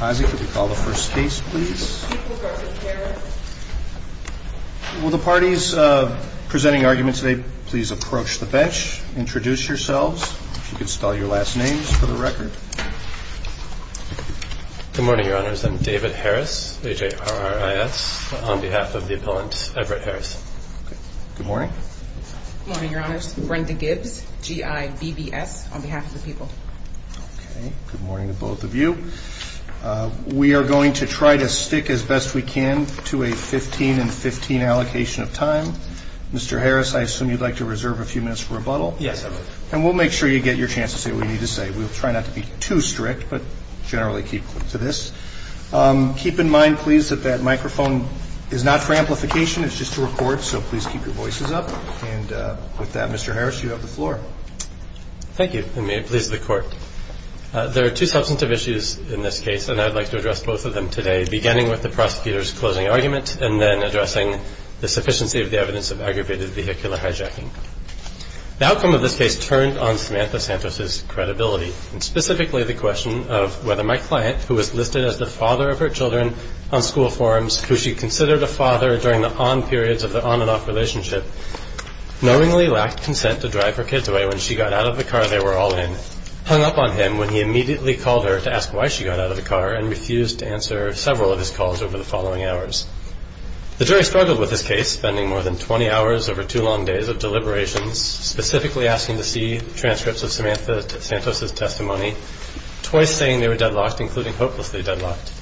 Isaac, would you call the first case, please? Will the parties presenting arguments today please approach the bench, introduce yourselves. If you could spell your last names for the record. Good morning, your honors. I'm David Harris, H-A-R-R-I-S, on behalf of the appellant Everett Harris. Good morning. Good morning, your honors. Brenda Gibbs, G-I-B-B-S, on behalf of the people. Okay. Good morning to both of you. We are going to try to stick as best we can to a 15 and 15 allocation of time. Mr. Harris, I assume you'd like to reserve a few minutes for rebuttal? Yes, I would. And we'll make sure you get your chance to say what you need to say. We'll try not to be too strict, but generally keep to this. Keep in mind, please, that that microphone is not for amplification. It's just to record, so please keep your voices up. And with that, Mr. Harris, you have the floor. Thank you. And may it please the court, there are two substantive issues in this case, and I'd like to address both of them today, beginning with the prosecutor's closing argument and then addressing the sufficiency of the evidence of aggravated vehicular hijacking. The outcome of this case turned on Samantha Santos's credibility, and specifically the question of whether my client, who was listed as the father of her children on school forums, who she considered a father during the on periods of the on and off relationship, knowingly lacked consent to drive her kids away when she got out of the car they were all in, hung up on him when he immediately called her to ask why she got out of the car and refused to answer several of his calls over the following hours. The jury struggled with this case, spending more than 20 hours over two long days of deliberations, specifically asking to see transcripts of Samantha Santos's testimony, twice saying they were deadlocked, including hopelessly deadlocked.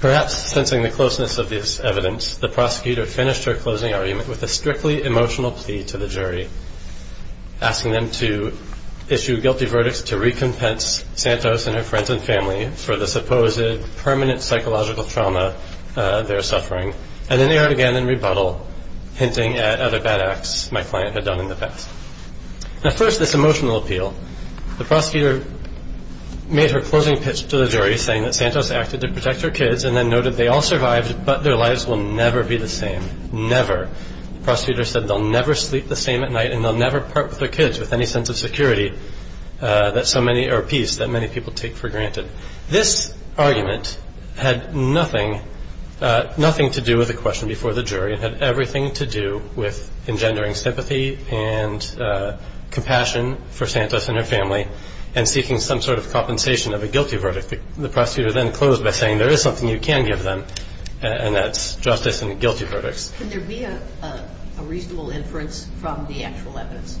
Perhaps sensing the closeness of this evidence, the prosecutor finished her closing argument with a strictly emotional plea to the jury, asking them to issue guilty verdicts to recompense Santos and her friends and family for the supposed permanent psychological trauma they were suffering, and then they went again in rebuttal, hinting at other bad acts my client had done in the past. Now first, this emotional appeal. The prosecutor made her closing pitch to the jury, saying that Santos acted to protect her kids, and then noted they all survived but their lives will never be the same. Never. The prosecutor said they'll never sleep the same at night and they'll never part with their kids with any sense of security or peace that many people take for granted. This argument had nothing to do with the question before the jury. It had everything to do with engendering sympathy and compassion for Santos and her family and seeking some sort of compensation of a guilty verdict. The prosecutor then closed by saying there is something you can give them, and that's justice and a guilty verdict. Can there be a reasonable inference from the actual evidence?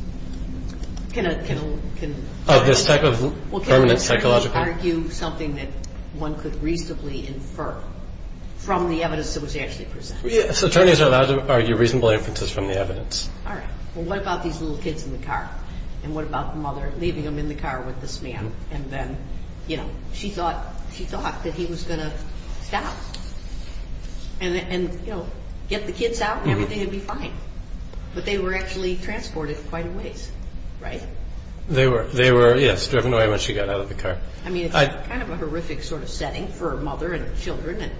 This type of permanent psychological? Well, can attorneys argue something that one could reasonably infer from the evidence that was actually presented? Yes, attorneys are allowed to argue reasonable inferences from the evidence. All right. Well, what about these little kids in the car, and what about the mother leaving them in the car with this man, and then, you know, she thought that he was going to stop and, you know, get the kids out and everything would be fine, but they were actually transported quite a ways, right? They were, yes, driven away when she got out of the car. I mean, it's kind of a horrific sort of setting for a mother and her children,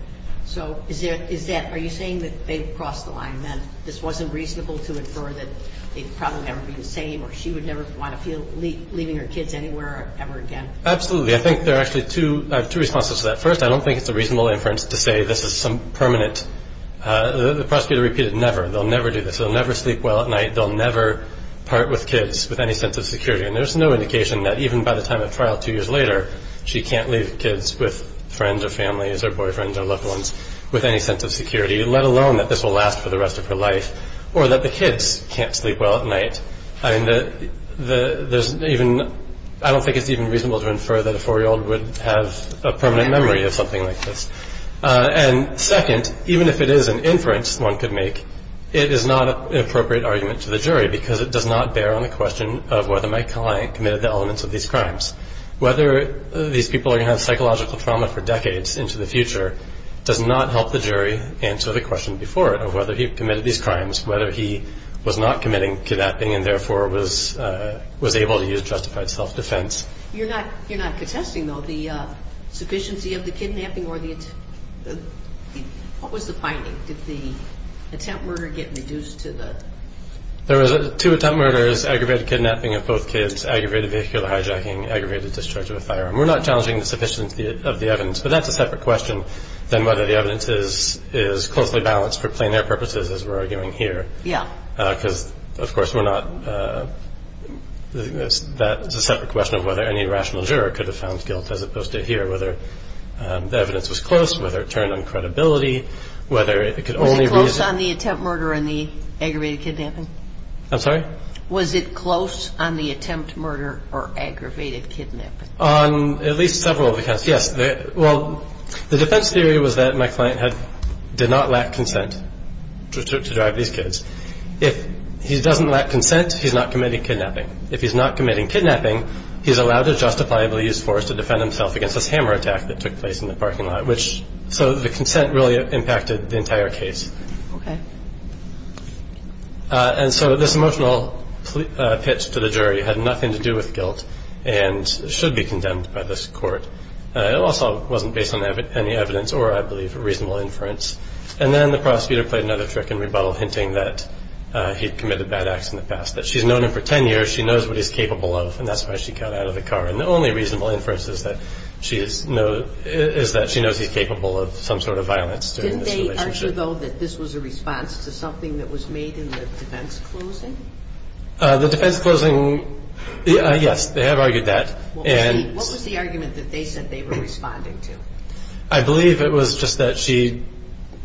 so are you saying that they crossed the line, that this wasn't reasonable to infer that they'd probably never be the same or she would never want to feel leaving her kids anywhere ever again? Absolutely. I think there are actually two responses to that. First, I don't think it's a reasonable inference to say this is some permanent. The prosecutor repeated never. They'll never do this. They'll never sleep well at night. They'll never part with kids with any sense of security, and there's no indication that even by the time of trial two years later, she can't leave kids with friends or families or boyfriends or loved ones with any sense of security, let alone that this will last for the rest of her life, or that the kids can't sleep well at night. I don't think it's even reasonable to infer that a 4-year-old would have a permanent memory of something like this. And second, even if it is an inference one could make, it is not an appropriate argument to the jury because it does not bear on the question of whether my client committed the elements of these crimes. Whether these people are going to have psychological trauma for decades into the future does not help the jury answer the question before it of whether he committed these crimes, whether he was not committing kidnapping and therefore was able to use justified self-defense. You're not contesting, though, the sufficiency of the kidnapping or the attempt? What was the finding? Did the attempt murder get reduced to the? There was two attempt murders, aggravated kidnapping of both kids, aggravated vehicular hijacking, aggravated discharge of a firearm. We're not challenging the sufficiency of the evidence, but that's a separate question than whether the evidence is closely balanced for plain air purposes as we're arguing here. Yeah. Because, of course, we're not. That's a separate question of whether any rational juror could have found guilt as opposed to here, whether the evidence was close, whether it turned on credibility, whether it could only. Was it close on the attempt murder and the aggravated kidnapping? I'm sorry? Was it close on the attempt murder or aggravated kidnapping? On at least several of the cases, yes. Well, the defense theory was that my client did not lack consent to drive these kids. If he doesn't lack consent, he's not committing kidnapping. If he's not committing kidnapping, he's allowed to justifiably use force to defend himself against this hammer attack that took place in the parking lot, which so the consent really impacted the entire case. Okay. And so this emotional pitch to the jury had nothing to do with guilt and should be condemned by this court. It also wasn't based on any evidence or, I believe, a reasonable inference. And then the prosecutor played another trick in rebuttal, hinting that he'd committed bad acts in the past, that she's known him for 10 years, she knows what he's capable of, and that's why she got out of the car. And the only reasonable inference is that she knows he's capable of some sort of violence during this relationship. Didn't they argue, though, that this was a response to something that was made in the defense closing? The defense closing, yes, they have argued that. What was the argument that they said they were responding to? I believe it was just that she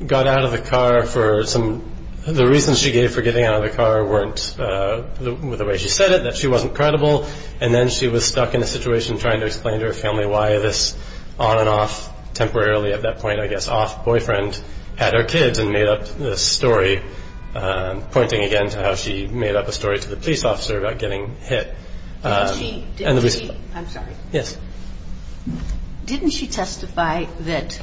got out of the car for some of the reasons she gave for getting out of the car weren't the way she said it, that she wasn't credible, and then she was stuck in a situation trying to explain to her family why this on and off, temporarily at that point, I guess, off boyfriend had her kids and made up this story, pointing again to how she made up a story to the police officer about getting hit. Didn't she testify that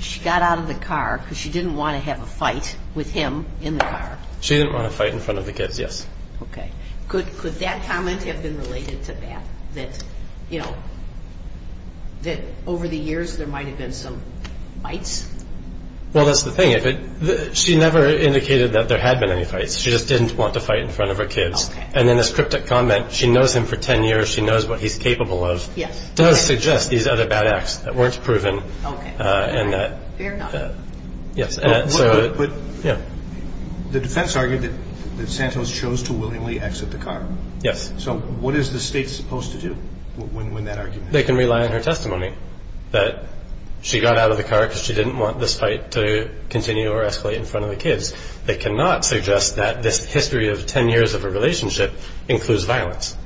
she got out of the car because she didn't want to have a fight with him in the car? She didn't want to fight in front of the kids, yes. Okay. Could that comment have been related to that, that, you know, that over the years there might have been some fights? Well, that's the thing. She never indicated that there had been any fights. She just didn't want to fight in front of her kids. Okay. And then this cryptic comment, she knows him for 10 years, she knows what he's capable of, does suggest these other bad acts that weren't proven. Okay. Fair enough. Yes. But the defense argued that Santos chose to willingly exit the car. Yes. So what is the state supposed to do when that argument is made? They can rely on her testimony that she got out of the car because she didn't want this fight to continue or escalate in front of the kids. They cannot suggest that this history of 10 years of a relationship includes violence.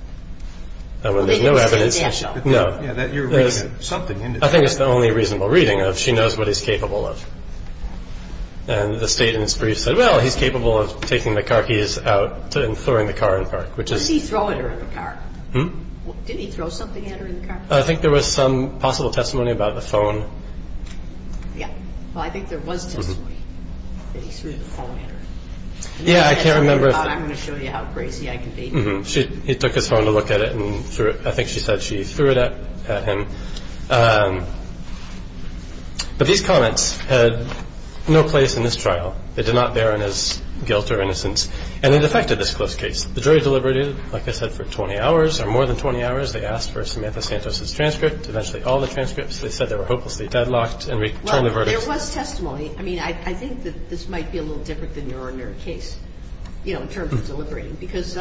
And when there's no evidence, no. You're reading something into that. I think it's the only reasonable reading of she knows what he's capable of. And the state in its brief said, well, he's capable of taking the car keys out and throwing the car in the park, which is... Did he throw it at her in the car? Hmm? Didn't he throw something at her in the car? I think there was some possible testimony about the phone. Yeah. Well, I think there was testimony that he threw the phone at her. Yeah. I can't remember if... I'm going to show you how crazy I can be. He took his phone to look at it and threw it. I think she said she threw it at him. But these comments had no place in this trial. They did not bear on his guilt or innocence. And it affected this close case. The jury deliberated, like I said, for 20 hours or more than 20 hours. They asked for Samantha Santos' transcript, eventually all the transcripts. They said they were hopelessly deadlocked and returned the verdict. Well, there was testimony. I mean, I think that this might be a little different than your ordinary case, you know, in terms of deliberating. Because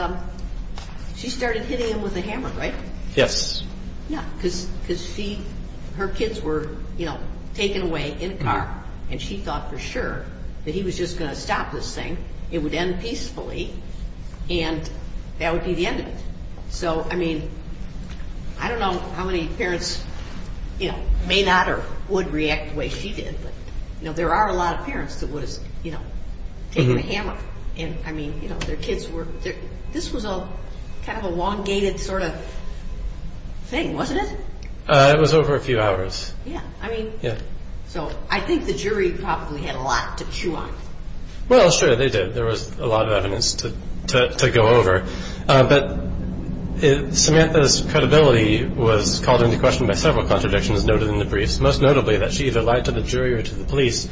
she started hitting him with a hammer, right? Yes. Yeah, because she... her kids were, you know, taken away in a car. And she thought for sure that he was just going to stop this thing. It would end peacefully. And that would be the end of it. So, I mean, I don't know how many parents, you know, may not or would react the way she did. But, you know, there are a lot of parents that would have, you know, taken a hammer. And, I mean, you know, their kids were... This was a kind of a long-gated sort of thing, wasn't it? It was over a few hours. Yeah, I mean... Yeah. So I think the jury probably had a lot to chew on. Well, sure, they did. There was a lot of evidence to go over. But Samantha's credibility was called into question by several contradictions noted in the briefs, most notably that she either lied to the jury or to the police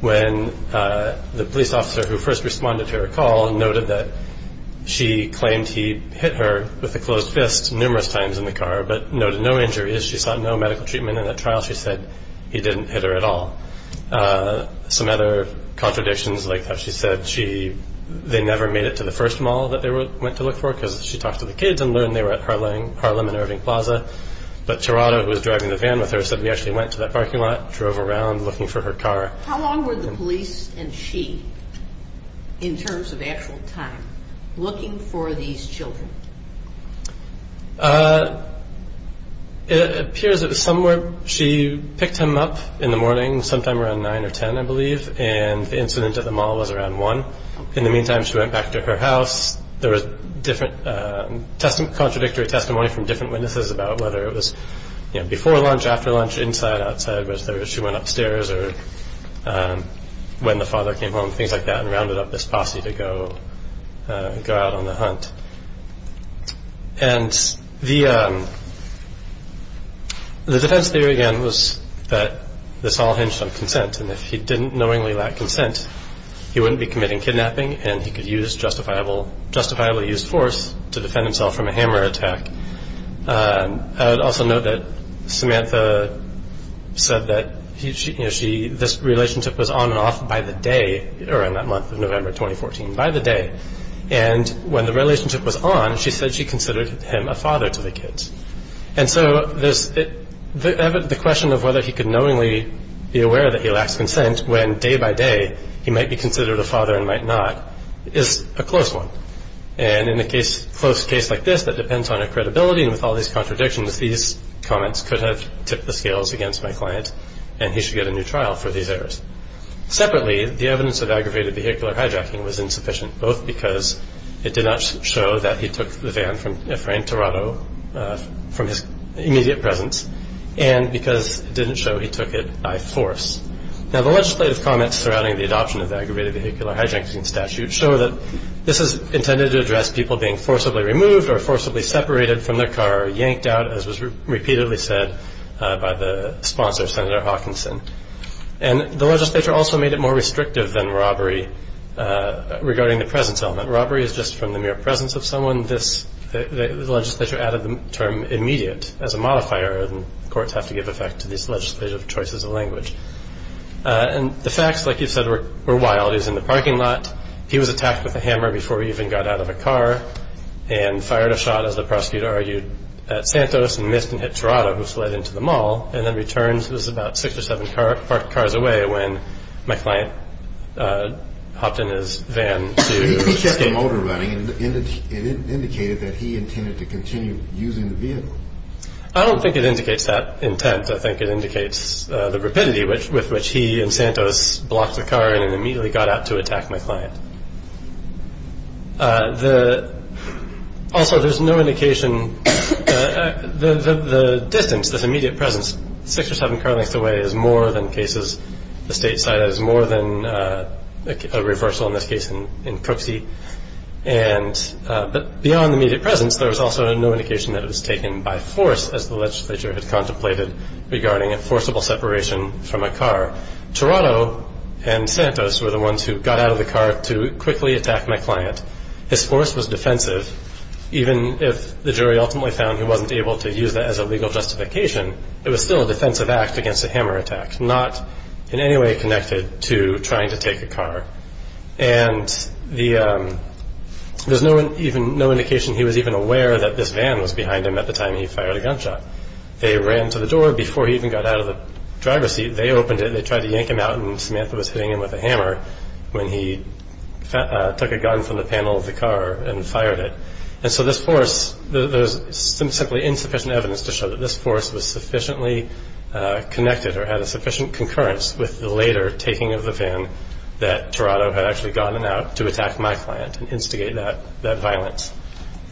when the police officer who first responded to her call noted that she claimed he hit her with a closed fist numerous times in the car but noted no injuries. She sought no medical treatment in that trial. She said he didn't hit her at all. Some other contradictions, like how she said she... they never made it to the first mall that they went to look for because she talked to the kids and learned they were at Harlem and Irving Plaza. But Gerardo, who was driving the van with her, said, we actually went to that parking lot, drove around looking for her car. How long were the police and she, in terms of actual time, looking for these children? It appears it was somewhere... She picked him up in the morning sometime around 9 or 10, I believe, and the incident at the mall was around 1. In the meantime, she went back to her house. There was different contradictory testimony from different witnesses about whether it was before lunch, after lunch, inside, outside, whether she went upstairs or when the father came home, things like that, and rounded up this posse to go out on the hunt. And the defense theory, again, was that this all hinged on consent, and if he didn't knowingly lack consent, he wouldn't be committing kidnapping and he could use justifiably used force to defend himself from a hammer attack. I would also note that Samantha said that this relationship was on and off by the day, around that month of November 2014, by the day. And when the relationship was on, she said she considered him a father to the kids. And so the question of whether he could knowingly be aware that he lacks consent when day by day he might be considered a father and might not is a close one. And in a close case like this that depends on her credibility and with all these contradictions, these comments could have tipped the scales against my client and he should get a new trial for these errors. Separately, the evidence of aggravated vehicular hijacking was insufficient, both because it did not show that he took the van from Ephraim, Toronto, from his immediate presence, and because it didn't show he took it by force. Now, the legislative comments surrounding the adoption of the aggravated vehicular hijacking statute show that this is intended to address people being forcibly removed or forcibly separated from their car or yanked out, as was repeatedly said by the sponsor, Senator Hawkinson. And the legislature also made it more restrictive than robbery regarding the presence element. Robbery is just from the mere presence of someone. The legislature added the term immediate as a modifier, and courts have to give effect to these legislative choices of language. And the facts, like you said, were wild. He was in the parking lot. He was attacked with a hammer before he even got out of a car and fired a shot, as the prosecutor argued, at Santos and missed and hit Tirado, who fled into the mall, and then returned. It was about six or seven parked cars away when my client hopped in his van to escape. He kept the motor running, and it indicated that he intended to continue using the vehicle. I don't think it indicates that intent. I think it indicates the rapidity with which he and Santos blocked the car and immediately got out to attack my client. Also, there's no indication, the distance, this immediate presence, six or seven car lengths away is more than cases the state cited, is more than a reversal in this case in Crooksy. But beyond the immediate presence, there was also no indication that it was taken by force, as the legislature had contemplated regarding a forcible separation from a car. Tirado and Santos were the ones who got out of the car to quickly attack my client. His force was defensive. Even if the jury ultimately found he wasn't able to use that as a legal justification, it was still a defensive act against a hammer attack, not in any way connected to trying to take a car. And there's no indication he was even aware that this van was behind him at the time he fired a gunshot. They ran to the door before he even got out of the driver's seat. They opened it. They tried to yank him out, and Samantha was hitting him with a hammer when he took a gun from the panel of the car and fired it. And so this force, there's simply insufficient evidence to show that this force was sufficiently connected or had a sufficient concurrence with the later taking of the van that Tirado had actually gotten out to attack my client and instigate that violence.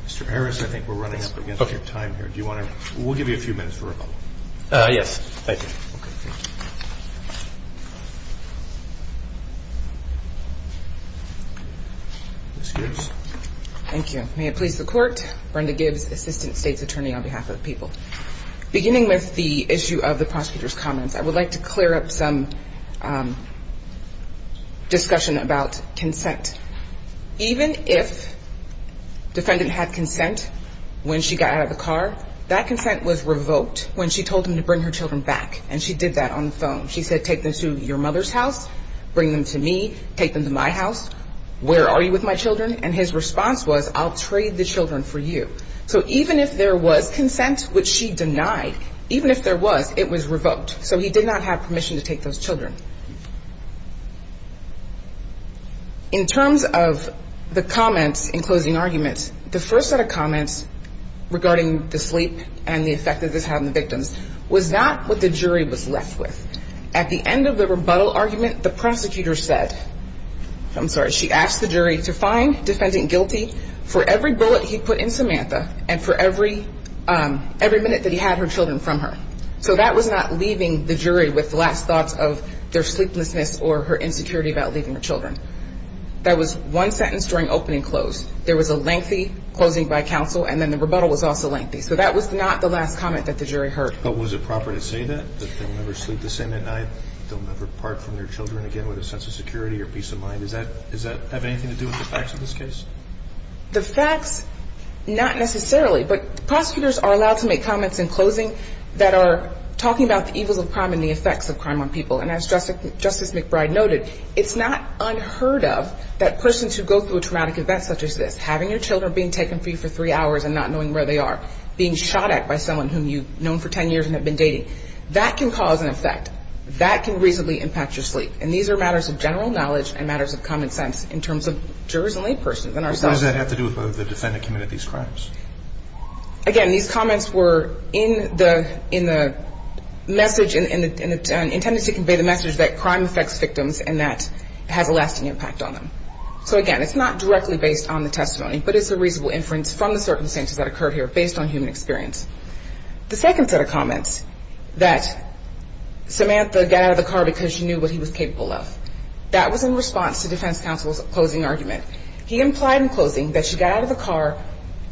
Mr. Harris, I think we're running up against the time here. Do you want to? We'll give you a few minutes for recall. Yes, thank you. Ms. Gibbs. Thank you. May it please the Court, Brenda Gibbs, Assistant State's Attorney on behalf of the people. Beginning with the issue of the prosecutor's comments, I would like to clear up some discussion about consent. Even if defendant had consent when she got out of the car, that consent was revoked when she told him to bring her children back, and she did that on the phone. She said, take them to your mother's house, bring them to me, take them to my house. Where are you with my children? And his response was, I'll trade the children for you. So even if there was consent, which she denied, even if there was, it was revoked. So he did not have permission to take those children. In terms of the comments in closing arguments, the first set of comments regarding the sleep and the effect that this had on the victims was not what the jury was left with. At the end of the rebuttal argument, the prosecutor said, I'm sorry, she asked the jury to find defendant guilty for every bullet he put in Samantha and for every minute that he had her children from her. So that was not leaving the jury with last thoughts of their sleeplessness or her insecurity about leaving the children. That was one sentence during opening and close. There was a lengthy closing by counsel, and then the rebuttal was also lengthy. So that was not the last comment that the jury heard. But was it proper to say that, that they'll never sleep the same at night, they'll never part from their children again with a sense of security or peace of mind? Does that have anything to do with the facts of this case? The facts, not necessarily. But prosecutors are allowed to make comments in closing that are talking about the evils of crime and the effects of crime on people. And as Justice McBride noted, it's not unheard of that persons who go through a traumatic event such as this, having your children being taken from you for three hours and not knowing where they are, being shot at by someone whom you've known for ten years and have been dating, that can cause an effect. That can reasonably impact your sleep. And these are matters of general knowledge and matters of common sense in terms of jurors and laypersons and ourselves. What does that have to do with whether the defendant committed these crimes? Again, these comments were in the message and intended to convey the message that crime affects victims and that it has a lasting impact on them. So again, it's not directly based on the testimony, but it's a reasonable inference from the circumstances that occurred here based on human experience. The second set of comments, that Samantha got out of the car because she knew what he was capable of, that was in response to defense counsel's closing argument. He implied in closing that she got out of the car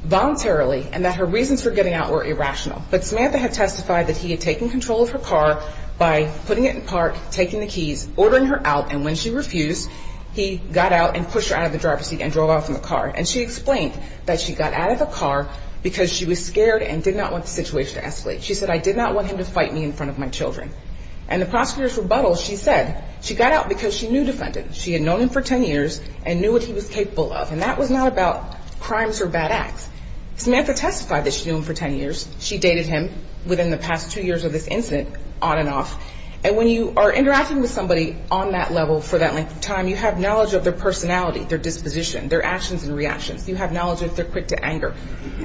voluntarily and that her reasons for getting out were irrational. But Samantha had testified that he had taken control of her car by putting it in park, taking the keys, ordering her out, and when she refused, he got out and pushed her out of the driver's seat and drove off in the car. And she explained that she got out of the car because she was scared and did not want the situation to escalate. She said, I did not want him to fight me in front of my children. And the prosecutor's rebuttal, she said, she got out because she knew the defendant. She had known him for ten years and knew what he was capable of. And that was not about crimes or bad acts. Samantha testified that she knew him for ten years. She dated him within the past two years of this incident on and off. And when you are interacting with somebody on that level for that length of time, you have knowledge of their personality, their disposition, their actions and reactions. You have knowledge if they're quick to anger.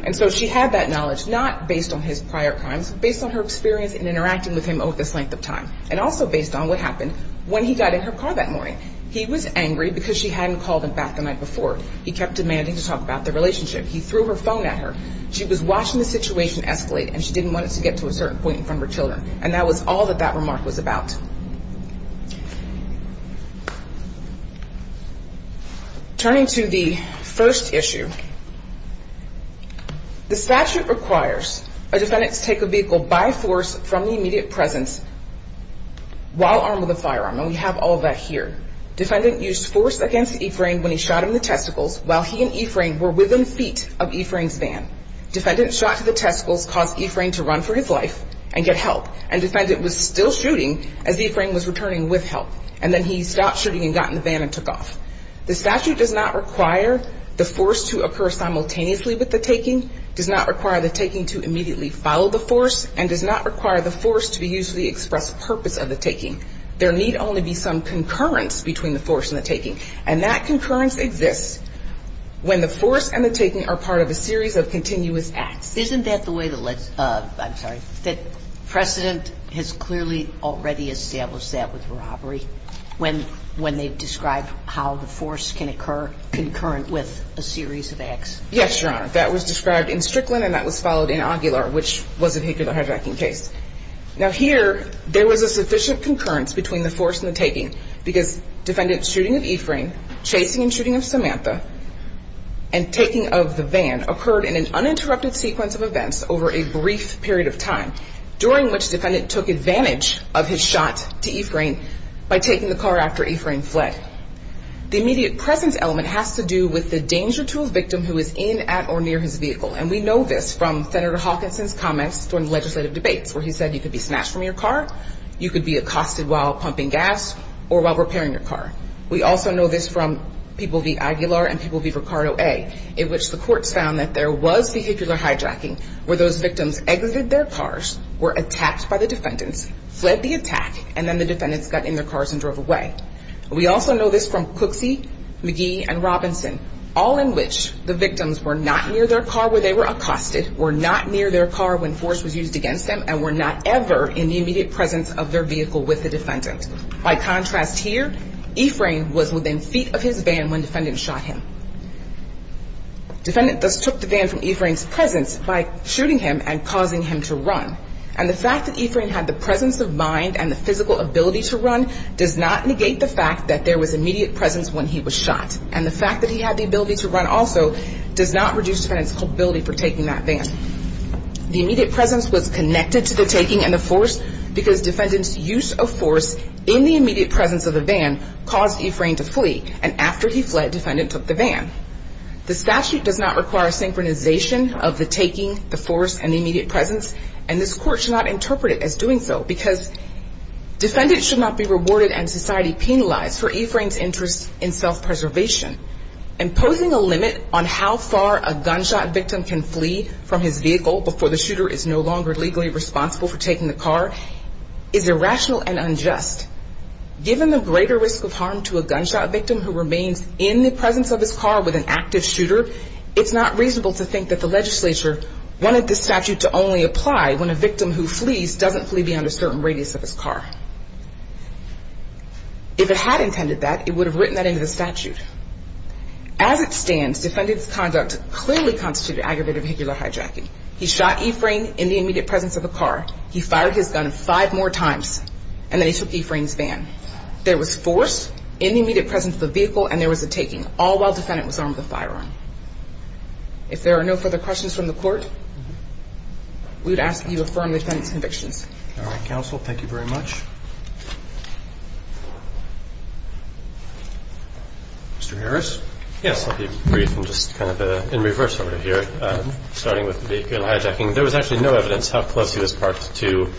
And so she had that knowledge, not based on his prior crimes, based on her experience in interacting with him over this length of time. And also based on what happened when he got in her car that morning. He was angry because she hadn't called him back the night before. He kept demanding to talk about their relationship. He threw her phone at her. She was watching the situation escalate, and she didn't want it to get to a certain point in front of her children. And that was all that that remark was about. Turning to the first issue, the statute requires a defendant to take a vehicle by force from the immediate presence while armed with a firearm. And we have all that here. Defendant used force against Ephraim when he shot him in the testicles while he and Ephraim were within feet of Ephraim's van. Defendant shot to the testicles, caused Ephraim to run for his life and get help. And defendant was still shooting as Ephraim was returning with help. And then he stopped shooting and got in the van and took off. The statute does not require the force to occur simultaneously with the taking, does not require the taking to immediately follow the force, and does not require the force to be used for the express purpose of the taking. There need only be some concurrence between the force and the taking. And that concurrence exists when the force and the taking are part of a series of continuous acts. Isn't that the way the legislation – I'm sorry, that precedent has clearly already established that with robbery, when they describe how the force can occur concurrent with a series of acts? Yes, Your Honor. That was described in Strickland and that was followed in Aguilar, which was a vehicular hijacking case. Now here, there was a sufficient concurrence between the force and the taking because defendant's shooting of Ephraim, chasing and shooting of Samantha, and taking of the van occurred in an uninterrupted sequence of events over a brief period of time, during which defendant took advantage of his shot to Ephraim by taking the car after Ephraim fled. The immediate presence element has to do with the danger to a victim who is in, at, or near his vehicle. And we know this from Senator Hawkinson's comments during legislative debates where he said you could be smashed from your car, you could be accosted while pumping gas, or while repairing your car. We also know this from people v. Aguilar and people v. Ricardo A., in which the courts found that there was vehicular hijacking where those victims exited their cars, were attacked by the defendants, fled the attack, and then the defendants got in their cars and drove away. We also know this from Cooksey, McGee, and Robinson, all in which the victims were not near their car where they were accosted, were not near their car when force was used against them, and were not ever in the immediate presence of their vehicle with the defendant. By contrast here, Ephraim was within feet of his van when defendants shot him. Defendant thus took the van from Ephraim's presence by shooting him and causing him to run. And the fact that Ephraim had the presence of mind and the physical ability to run does not negate the fact that there was immediate presence when he was shot. And the fact that he had the ability to run also does not reduce defendants' culpability for taking that van. The immediate presence was connected to the taking and the force because defendants' use of force in the immediate presence of the van caused Ephraim to flee, and after he fled, defendant took the van. The statute does not require a synchronization of the taking, the force, and the immediate presence, and this court should not interpret it as doing so because defendants should not be rewarded and society penalized for Ephraim's interest in self-preservation. Imposing a limit on how far a gunshot victim can flee from his vehicle before the shooter is no longer legally responsible for taking the car is irrational and unjust. Given the greater risk of harm to a gunshot victim who remains in the presence of his car with an active shooter, it's not reasonable to think that the legislature wanted this statute to only apply when a victim who flees doesn't flee beyond a certain radius of his car. If it had intended that, it would have written that into the statute. As it stands, defendant's conduct clearly constituted aggravated vehicular hijacking. He shot Ephraim in the immediate presence of a car. He fired his gun five more times, and then he took Ephraim's van. There was force in the immediate presence of the vehicle, and there was a taking, all while defendant was armed with a firearm. If there are no further questions from the court, we would ask you to affirm the defendant's convictions. All right, counsel, thank you very much. Mr. Harris? Yes, I'll be brief and just kind of in reverse order here, starting with vehicular hijacking. There was actually no evidence how close he was parked to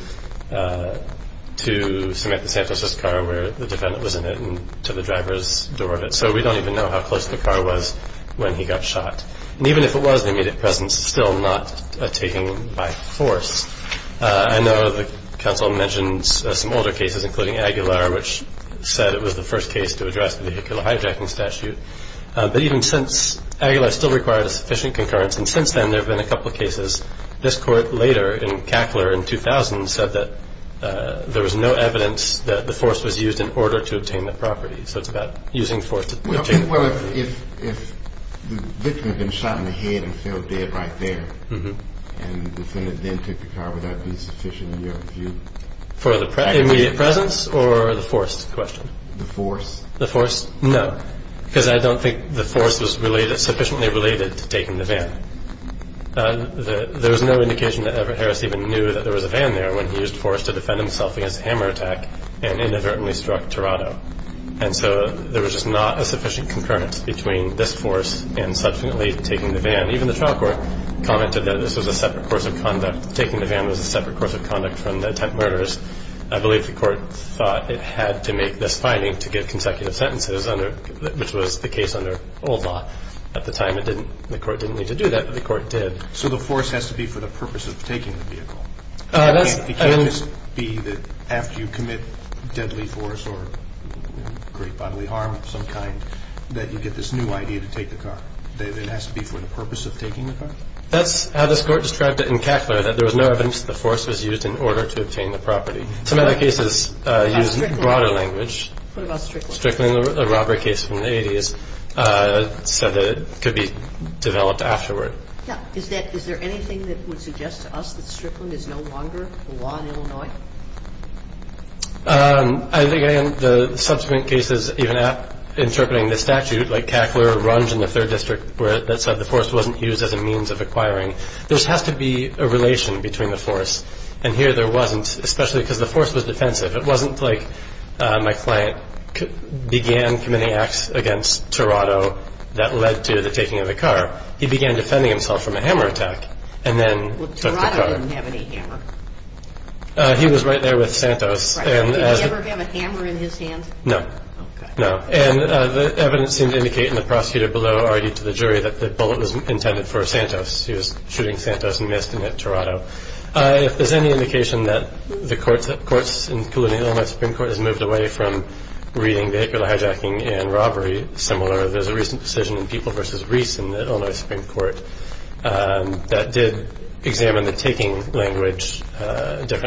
Samantha Santos' car where the defendant was in it and to the driver's door of it, so we don't even know how close the car was when he got shot. And even if it was in the immediate presence, still not a taking by force, I know the counsel mentioned some older cases, including Aguilar, which said it was the first case to address the vehicular hijacking statute. But even since Aguilar still required a sufficient concurrence, and since then there have been a couple of cases, this court later in Cackler in 2000 said that there was no evidence that the force was used in order to obtain the property, so it's about using force to take the property. Well, if the victim had been shot in the head and fell dead right there and the defendant then took the car, would that be sufficient in your view? For the immediate presence or the force question? The force. The force? No, because I don't think the force was sufficiently related to taking the van. There was no indication that Everett Harris even knew that there was a van there when he used force to defend himself against a hammer attack and inadvertently struck Tirado. And so there was just not a sufficient concurrence between this force and subsequently taking the van. Even the trial court commented that this was a separate course of conduct. Taking the van was a separate course of conduct from the attempted murders. I believe the court thought it had to make this finding to get consecutive sentences, which was the case under old law. At the time the court didn't need to do that, but the court did. So the force has to be for the purpose of taking the vehicle. It can't just be that after you commit deadly force or great bodily harm of some kind that you get this new idea to take the car. It has to be for the purpose of taking the car. That's how this Court described it in Cackler, that there was no evidence that the force was used in order to obtain the property. Some other cases use broader language. What about Strickland? Strickland, a robbery case from the 80s, said that it could be developed afterward. Yeah. Is there anything that would suggest to us that Strickland is no longer the law in Illinois? I think, again, the subsequent cases, even interpreting the statute, like Cackler, Runge, and the Third District, that said the force wasn't used as a means of acquiring, there has to be a relation between the force. And here there wasn't, especially because the force was defensive. It wasn't like my client began committing acts against Tirado that led to the taking of the car. He began defending himself from a hammer attack and then took the car. Well, Tirado didn't have any hammer. He was right there with Santos. Right. Did he ever have a hammer in his hands? No. Okay. No. And the evidence seemed to indicate, and the prosecutor below argued to the jury, that the bullet was intended for Santos. He was shooting Santos and missed and hit Tirado. If there's any indication that the courts, including the Illinois Supreme Court, has moved away from reading vehicular hijacking and robbery similar, there's a recent decision in People v. Reese in the Illinois Supreme Court that did examine the taking language,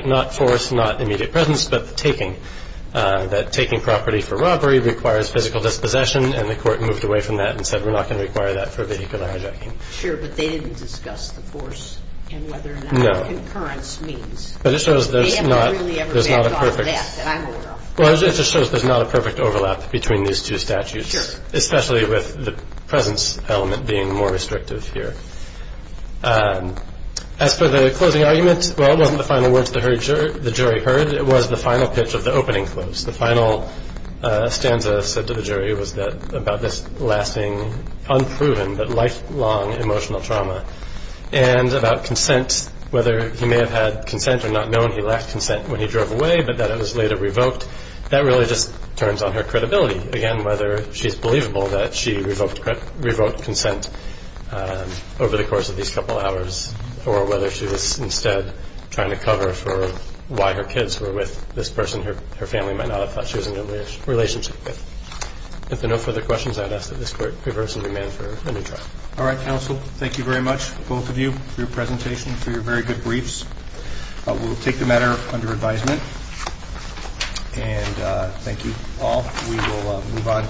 not force, not immediate presence, but the taking, that taking property for robbery requires physical dispossession, and the court moved away from that and said we're not going to require that for vehicular hijacking. Sure, but they didn't discuss the force and whether or not concurrence means. No. They haven't really ever backed off that that I'm aware of. Well, it just shows there's not a perfect overlap between these two statutes. Sure. Especially with the presence element being more restrictive here. As for the closing argument, well, it wasn't the final words the jury heard. It was the final pitch of the opening close. The final stanza said to the jury was about this lasting, unproven, but lifelong emotional trauma, and about consent, whether he may have had consent or not known he lacked consent when he drove away, but that it was later revoked. That really just turns on her credibility, again, whether she's believable that she revoked consent over the course of these couple hours or whether she was instead trying to cover for why her kids were with this person her family might not have thought she was in a relationship with. If there are no further questions, I'd ask that this court reverse the demand for a new trial. All right, counsel. Thank you very much, both of you, for your presentation, for your very good briefs. We'll take the matter under advisement, and thank you all. We will move on.